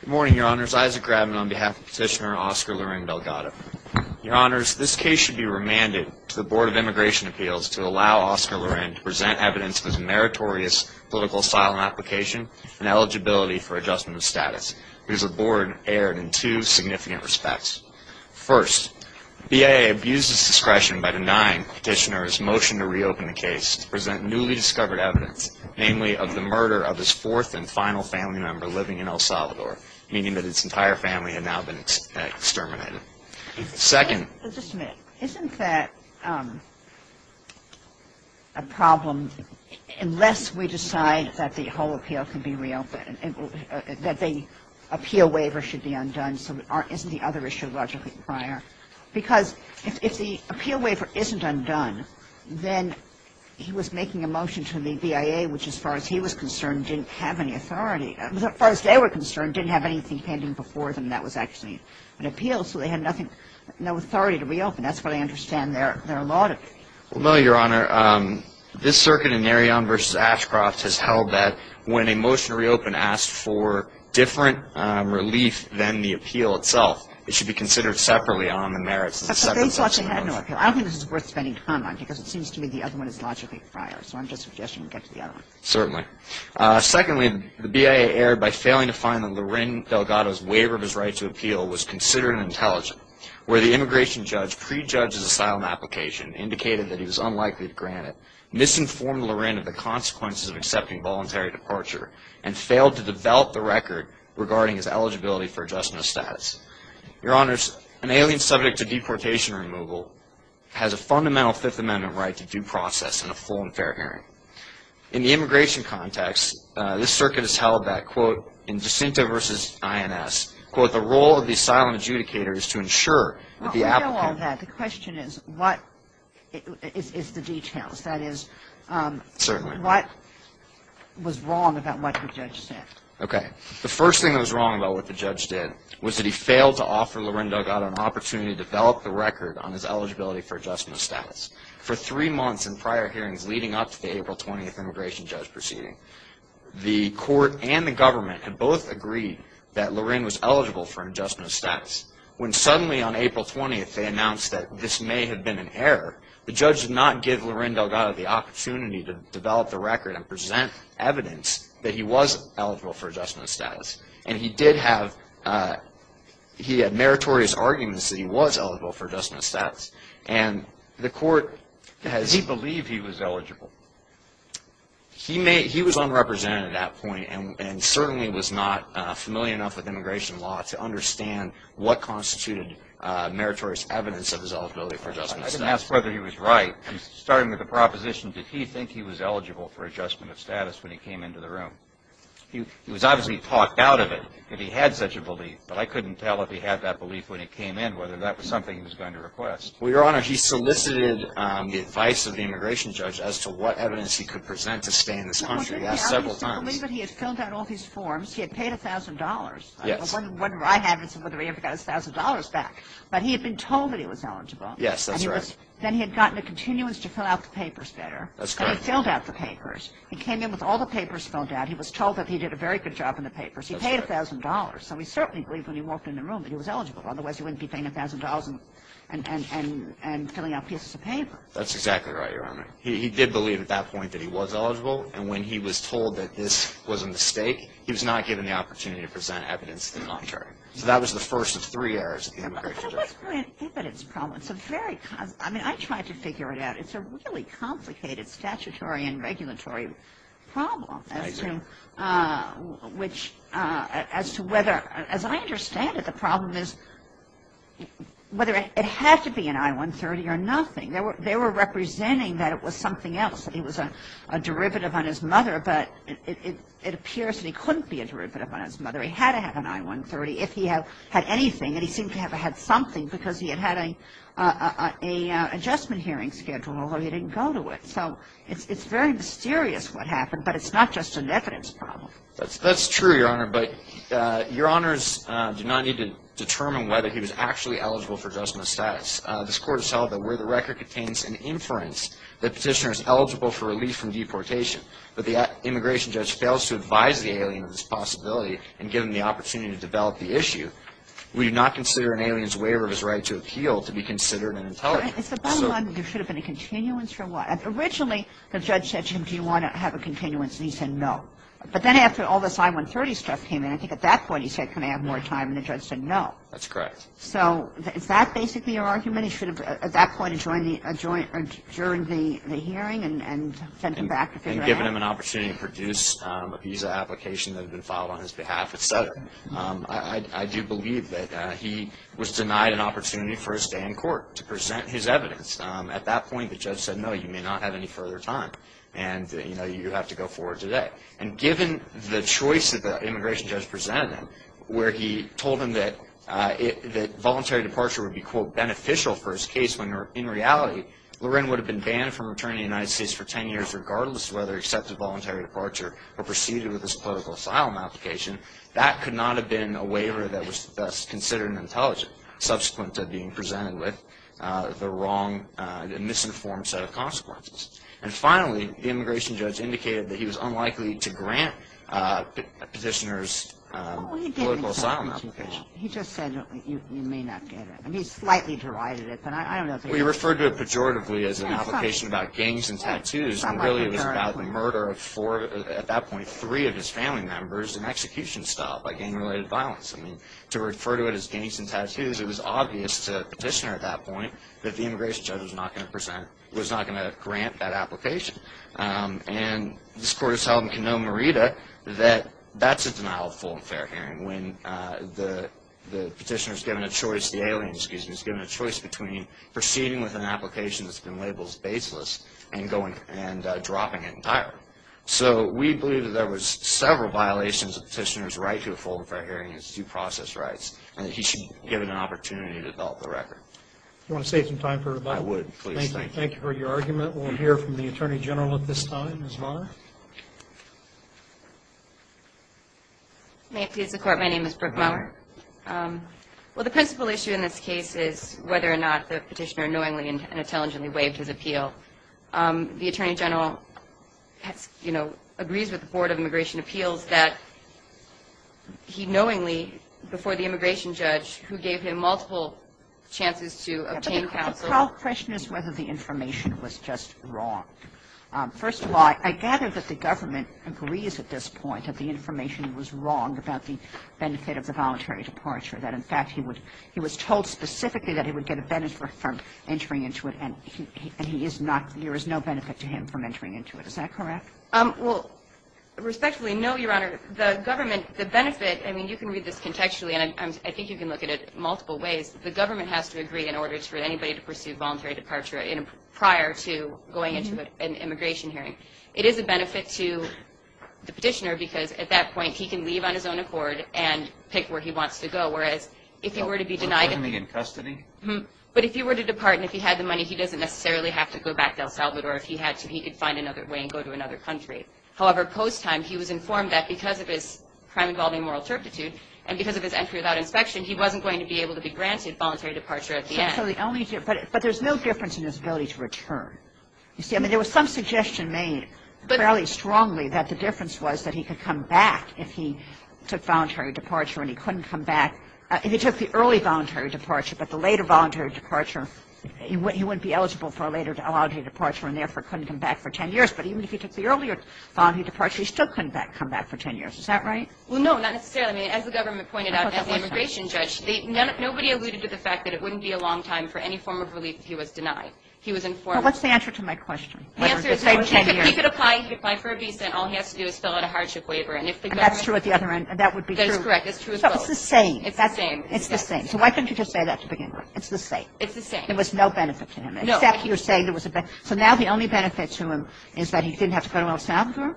Good morning, Your Honors. Isaac Grabman on behalf of Petitioner Oscar Loren-Delgado. Your Honors, this case should be remanded to the Board of Immigration Appeals to allow Oscar Loren to present evidence of his meritorious political asylum application and eligibility for adjustment of status, because the Board erred in two significant respects. First, the BAA abuses discretion by denying Petitioner's motion to reopen the case to present newly discovered evidence, namely of the murder of his fourth and final family member living in El Salvador, meaning that his entire family had now been exterminated. Second — Just a minute. Isn't that a problem? Unless we decide that the whole appeal can be reopened, that the appeal waiver should be undone, isn't the other issue logically prior? Because if the appeal waiver isn't undone, then he was making a motion to the BAA, which, as far as he was concerned, didn't have any authority — as far as they were concerned, didn't have anything pending before them that was actually an appeal, so they had nothing — no authority to reopen. That's what I understand their — their logic. Well, no, Your Honor. This circuit in Narion v. Ashcroft has held that when a motion to reopen asks for different relief than the appeal itself, it should be considered separately on the merits of the second section of the motion. But they thought they had no appeal. I don't think this is worth spending time on, because it seems to me the other one is logically prior. So I'm just suggesting we get to the other one. Certainly. Secondly, the BAA erred by failing to find that Lorin Delgado's waiver of his right to appeal was considered intelligent, where the immigration judge prejudged his asylum application, indicated that he was unlikely to grant it, misinformed Lorin of the consequences of accepting voluntary departure, and failed to develop the record regarding his eligibility for adjustment of status. Your Honors, an alien subject to deportation removal has a fundamental Fifth Amendment right to due process and a full and fair hearing. In the immigration context, this circuit has held that, quote, in DeCinto v. INS, quote, the role of the asylum adjudicator is to ensure that the applicant — Well, I know all that. The question is, what is the details? That is — Certainly. What was wrong about what the judge said? Okay. The first thing that was wrong about what the judge did was that he failed to offer Lorin Delgado an opportunity to develop the record on his eligibility for adjustment of status. For three months in prior hearings leading up to the April 20th immigration judge proceeding, the court and the government had both agreed that Lorin was eligible for adjustment of status. When suddenly on April 20th they announced that this may have been an error, the judge did not give Lorin Delgado the opportunity to develop the record and present evidence that he was eligible for adjustment of status. And he did have — he had meritorious arguments that he was eligible for adjustment of status. And the court has — Does he believe he was eligible? He was unrepresented at that point and certainly was not familiar enough with immigration law to understand what constituted meritorious evidence of his eligibility for adjustment of status. I didn't ask whether he was right. I'm starting with the proposition, did he think he was eligible for adjustment of status when he came into the room? He was obviously talked out of it if he had such a belief, but I couldn't tell if he had that belief when he came in, whether that was something he was going to request. Well, Your Honor, he solicited the advice of the immigration judge as to what evidence he could present to stay in this country. He asked several times. He obviously believed that he had filled out all these forms. He had paid $1,000. Yes. It wasn't whether I had it, whether he ever got his $1,000 back. But he had been told that he was eligible. Yes, that's right. And he was — then he had gotten a continuance to fill out the papers better. That's correct. And he filled out the papers. He came in with all the papers filled out. He was told that he did a very good job in the papers. That's right. He paid $1,000. So he certainly believed when he walked in the room that he was eligible. Otherwise, he wouldn't be paying $1,000 and filling out pieces of paper. That's exactly right, Your Honor. He did believe at that point that he was eligible. And when he was told that this was a mistake, he was not given the opportunity to present evidence to the contrary. So that was the first of three errors of the immigration judge. But it wasn't really an evidence problem. It's a very — I mean, I tried to figure it out. It's a really complicated statutory and regulatory problem as to — I see. Which — as to whether — as I understand it, the problem is whether it had to be an I-130 or nothing. They were representing that it was something else, that he was a derivative on his mother. But it appears that he couldn't be a derivative on his mother. He had to have an I-130 if he had anything. And he seemed to have had something because he had had an adjustment hearing schedule, although he didn't go to it. So it's very mysterious what happened. But it's not just an evidence problem. That's true, Your Honor. But Your Honors do not need to determine whether he was actually eligible for adjustment of status. This Court has held that where the record contains an inference that the petitioner is eligible for relief from deportation, but the immigration judge fails to advise the alien of this possibility and give him the opportunity to develop the issue, we do not consider an alien's waiver of his right to appeal to be considered an intelligence. It's the bottom line that there should have been a continuance for a while. Originally, the judge said to him, do you want to have a continuance? And he said no. But then after all this I-130 stuff came in, I think at that point he said, can I have more time? And the judge said no. That's correct. So is that basically your argument? He should have at that point adjourned the hearing and sent him back? And given him an opportunity to produce a visa application that had been filed on his behalf, et cetera. I do believe that he was denied an opportunity for his stay in court to present his evidence. At that point, the judge said no, you may not have any further time, and, you know, you have to go forward today. And given the choice that the immigration judge presented him, where he told him that voluntary departure would be, quote, beneficial for his case when, in reality, Lorraine would have been banned from returning to the United States for ten years regardless of whether he accepted voluntary departure or proceeded with his political asylum application, that could not have been a waiver that was thus considered an intelligent, subsequent to being presented with the wrong and misinformed set of consequences. And finally, the immigration judge indicated that he was unlikely to grant petitioners a political asylum application. He just said you may not get it. And he slightly derided it. We referred to it pejoratively as an application about gangs and tattoos, and really it was about the murder of four, at that point, three of his family members in execution style by gang-related violence. I mean, to refer to it as gangs and tattoos, it was obvious to the petitioner at that point that the immigration judge was not going to present, was not going to grant that application. And this court has held in Cano, Merida, that that's a denial of full and fair hearing, when the petitioner is given a choice, the alien, excuse me, when the petitioner is given a choice between proceeding with an application that's been labeled baseless and dropping it entirely. So we believe that there was several violations of the petitioner's right to a full and fair hearing and his due process rights, and that he should be given an opportunity to develop the record. Do you want to save some time for rebuttal? I would, please. Thank you. Thank you for your argument. We'll hear from the Attorney General at this time, Ms. Maher. May it please the Court, my name is Brooke Maher. Well, the principal issue in this case is whether or not the petitioner knowingly and intelligently waived his appeal. The Attorney General, you know, agrees with the Board of Immigration Appeals that he knowingly, before the immigration judge, who gave him multiple chances to obtain counsel. The question is whether the information was just wrong. First of all, I gather that the government agrees at this point that the information was wrong about the benefit of the voluntary departure. That, in fact, he was told specifically that he would get a benefit from entering into it, and there is no benefit to him from entering into it. Is that correct? Well, respectfully, no, Your Honor. The government, the benefit, I mean, you can read this contextually, and I think you can look at it multiple ways. The government has to agree in order for anybody to pursue voluntary departure prior to going into an immigration hearing. It is a benefit to the petitioner because, at that point, he can leave on his own accord and pick where he wants to go, whereas if he were to be denied the money. In custody? But if he were to depart and if he had the money, he doesn't necessarily have to go back to El Salvador. If he had to, he could find another way and go to another country. However, post-time, he was informed that because of his crime involving moral turpitude and because of his entry without inspection, he wasn't going to be able to be granted voluntary departure at the end. But there's no difference in his ability to return. You see, I mean, there was some suggestion made fairly strongly that the difference was that he could come back if he took voluntary departure and he couldn't come back. If he took the early voluntary departure, but the later voluntary departure, he wouldn't be eligible for a later voluntary departure and therefore couldn't come back for 10 years. But even if he took the earlier voluntary departure, he still couldn't come back for 10 years. Is that right? Well, no, not necessarily. I mean, as the government pointed out, as the immigration judge, nobody alluded to the fact that it wouldn't be a long time for any form of relief if he was denied. He was informed. Well, what's the answer to my question? The answer is he could apply. He could apply for a B-Cent. All he has to do is fill out a hardship waiver. And if the government --. And that's true at the other end. That would be true. That is correct. It's true of both. It's the same. It's the same. It's the same. So why couldn't you just say that to begin with? It's the same. It's the same. There was no benefit to him. No. Except you're saying there was a benefit. So now the only benefit to him is that he didn't have to go to El Salvador?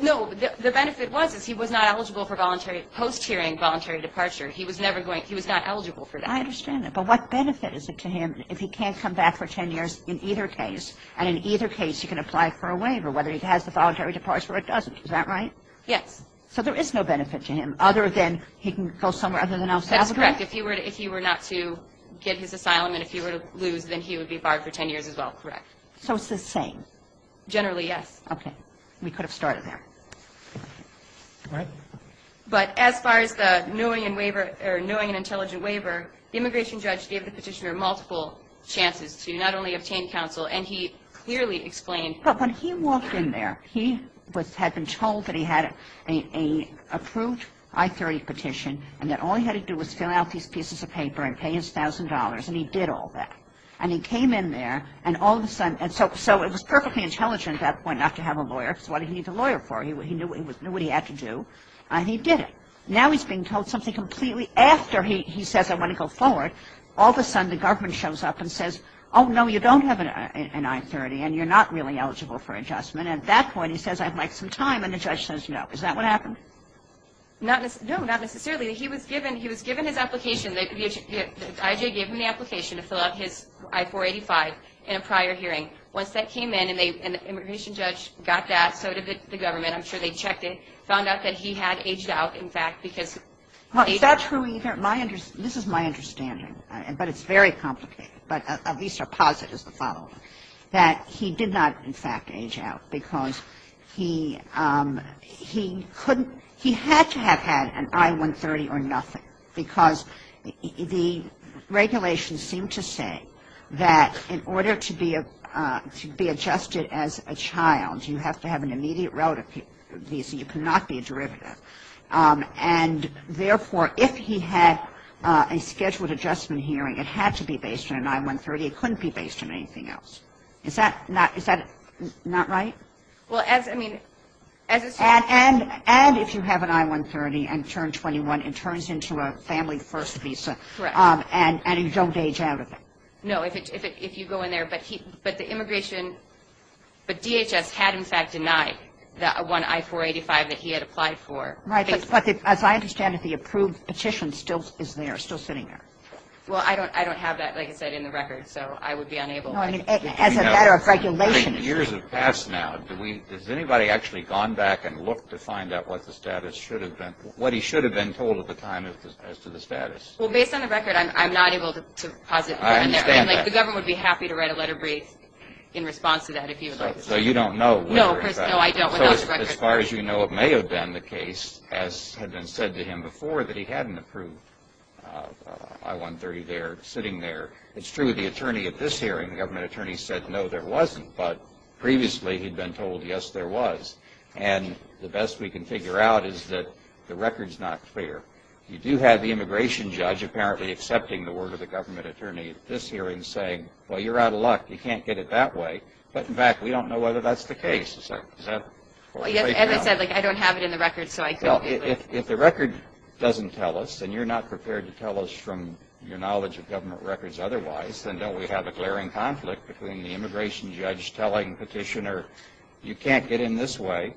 No. The benefit was, is he was not eligible for voluntary post-hearing voluntary departure. He was never going. He was not eligible for that. I understand that. But what benefit is it to him if he can't come back for 10 years in either case? And in either case, he can apply for a waiver, whether he has the voluntary departure or doesn't. Is that right? Yes. So there is no benefit to him other than he can go somewhere other than El Salvador? That's correct. If he were not to get his asylum and if he were to lose, then he would be barred for 10 years as well. Correct. So it's the same. Generally, yes. Okay. We could have started there. All right. But as far as the knowing and waiver or knowing and intelligent waiver, the immigration judge gave the petitioner multiple chances to not only obtain counsel, and he clearly explained When he walked in there, he had been told that he had an approved I-30 petition and that all he had to do was fill out these pieces of paper and pay his $1,000, and he did all that. And he came in there, and all of a sudden, and so it was perfectly intelligent at that point not to have a lawyer because what did he need a lawyer for? He knew what he had to do, and he did it. Now he's being told something completely after he says, I want to go forward. All of a sudden, the government shows up and says, oh, no, you don't have an I-30, and you're not really eligible for adjustment. At that point, he says, I'd like some time, and the judge says no. Is that what happened? No, not necessarily. He was given his application. The IJ gave him the application to fill out his I-485 in a prior hearing. Once that came in, and the immigration judge got that, so did the government. I'm sure they checked it, found out that he had aged out, in fact, because he had aged out. Well, is that true either? This is my understanding, but it's very complicated, but at least our posit is the following, that he did not, in fact, age out because he couldn't he had to have had an I-130 or nothing, because the regulations seem to say that in order to be adjusted as a child, you have to have an immediate relative visa. You cannot be a derivative. And, therefore, if he had a scheduled adjustment hearing, it had to be based on an I-130. It couldn't be based on anything else. Is that not right? And if you have an I-130 and turn 21, it turns into a family first visa, and you don't age out of it. No, if you go in there, but the immigration, but DHS had, in fact, denied that one I-485 that he had applied for. Right, but as I understand it, the approved petition still is there, still sitting there. Well, I don't have that, like I said, in the record, so I would be unable. As a matter of regulation. Years have passed now. Has anybody actually gone back and looked to find out what the status should have been, what he should have been told at the time as to the status? Well, based on the record, I'm not able to posit. I understand that. The government would be happy to write a letter brief in response to that if you would like. So you don't know. No, of course, no, I don't. As far as you know, it may have been the case, as had been said to him before, that he hadn't approved I-130 there, sitting there. It's true, the attorney at this hearing, the government attorney, said no, there wasn't. But previously, he'd been told, yes, there was. And the best we can figure out is that the record's not clear. You do have the immigration judge apparently accepting the word of the government attorney at this hearing saying, well, you're out of luck, you can't get it that way. But, in fact, we don't know whether that's the case. Well, as I said, I don't have it in the record, so I don't. Well, if the record doesn't tell us, and you're not prepared to tell us from your knowledge of government records otherwise, then don't we have a glaring conflict between the immigration judge telling petitioner, you can't get in this way,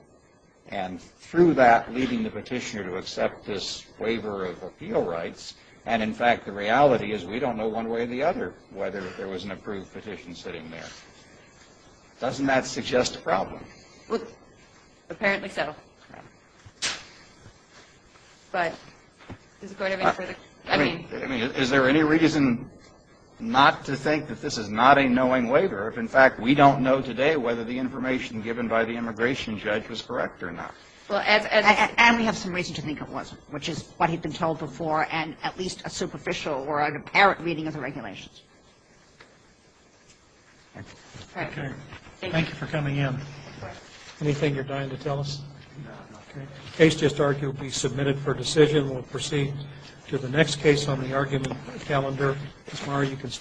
and through that leading the petitioner to accept this waiver of appeal rights. And, in fact, the reality is we don't know one way or the other whether there was an approved petition sitting there. Doesn't that suggest a problem? Well, apparently so. But is it going to be further? I mean, is there any reason not to think that this is not a knowing waiver if, in fact, we don't know today whether the information given by the immigration judge was correct or not? Well, and we have some reason to think it wasn't, which is what had been told before and at least a superficial or an apparent reading of the regulations. Thank you. Thank you for coming in. Anything you're dying to tell us? No. Okay. Thank you. Thank you. Thank you.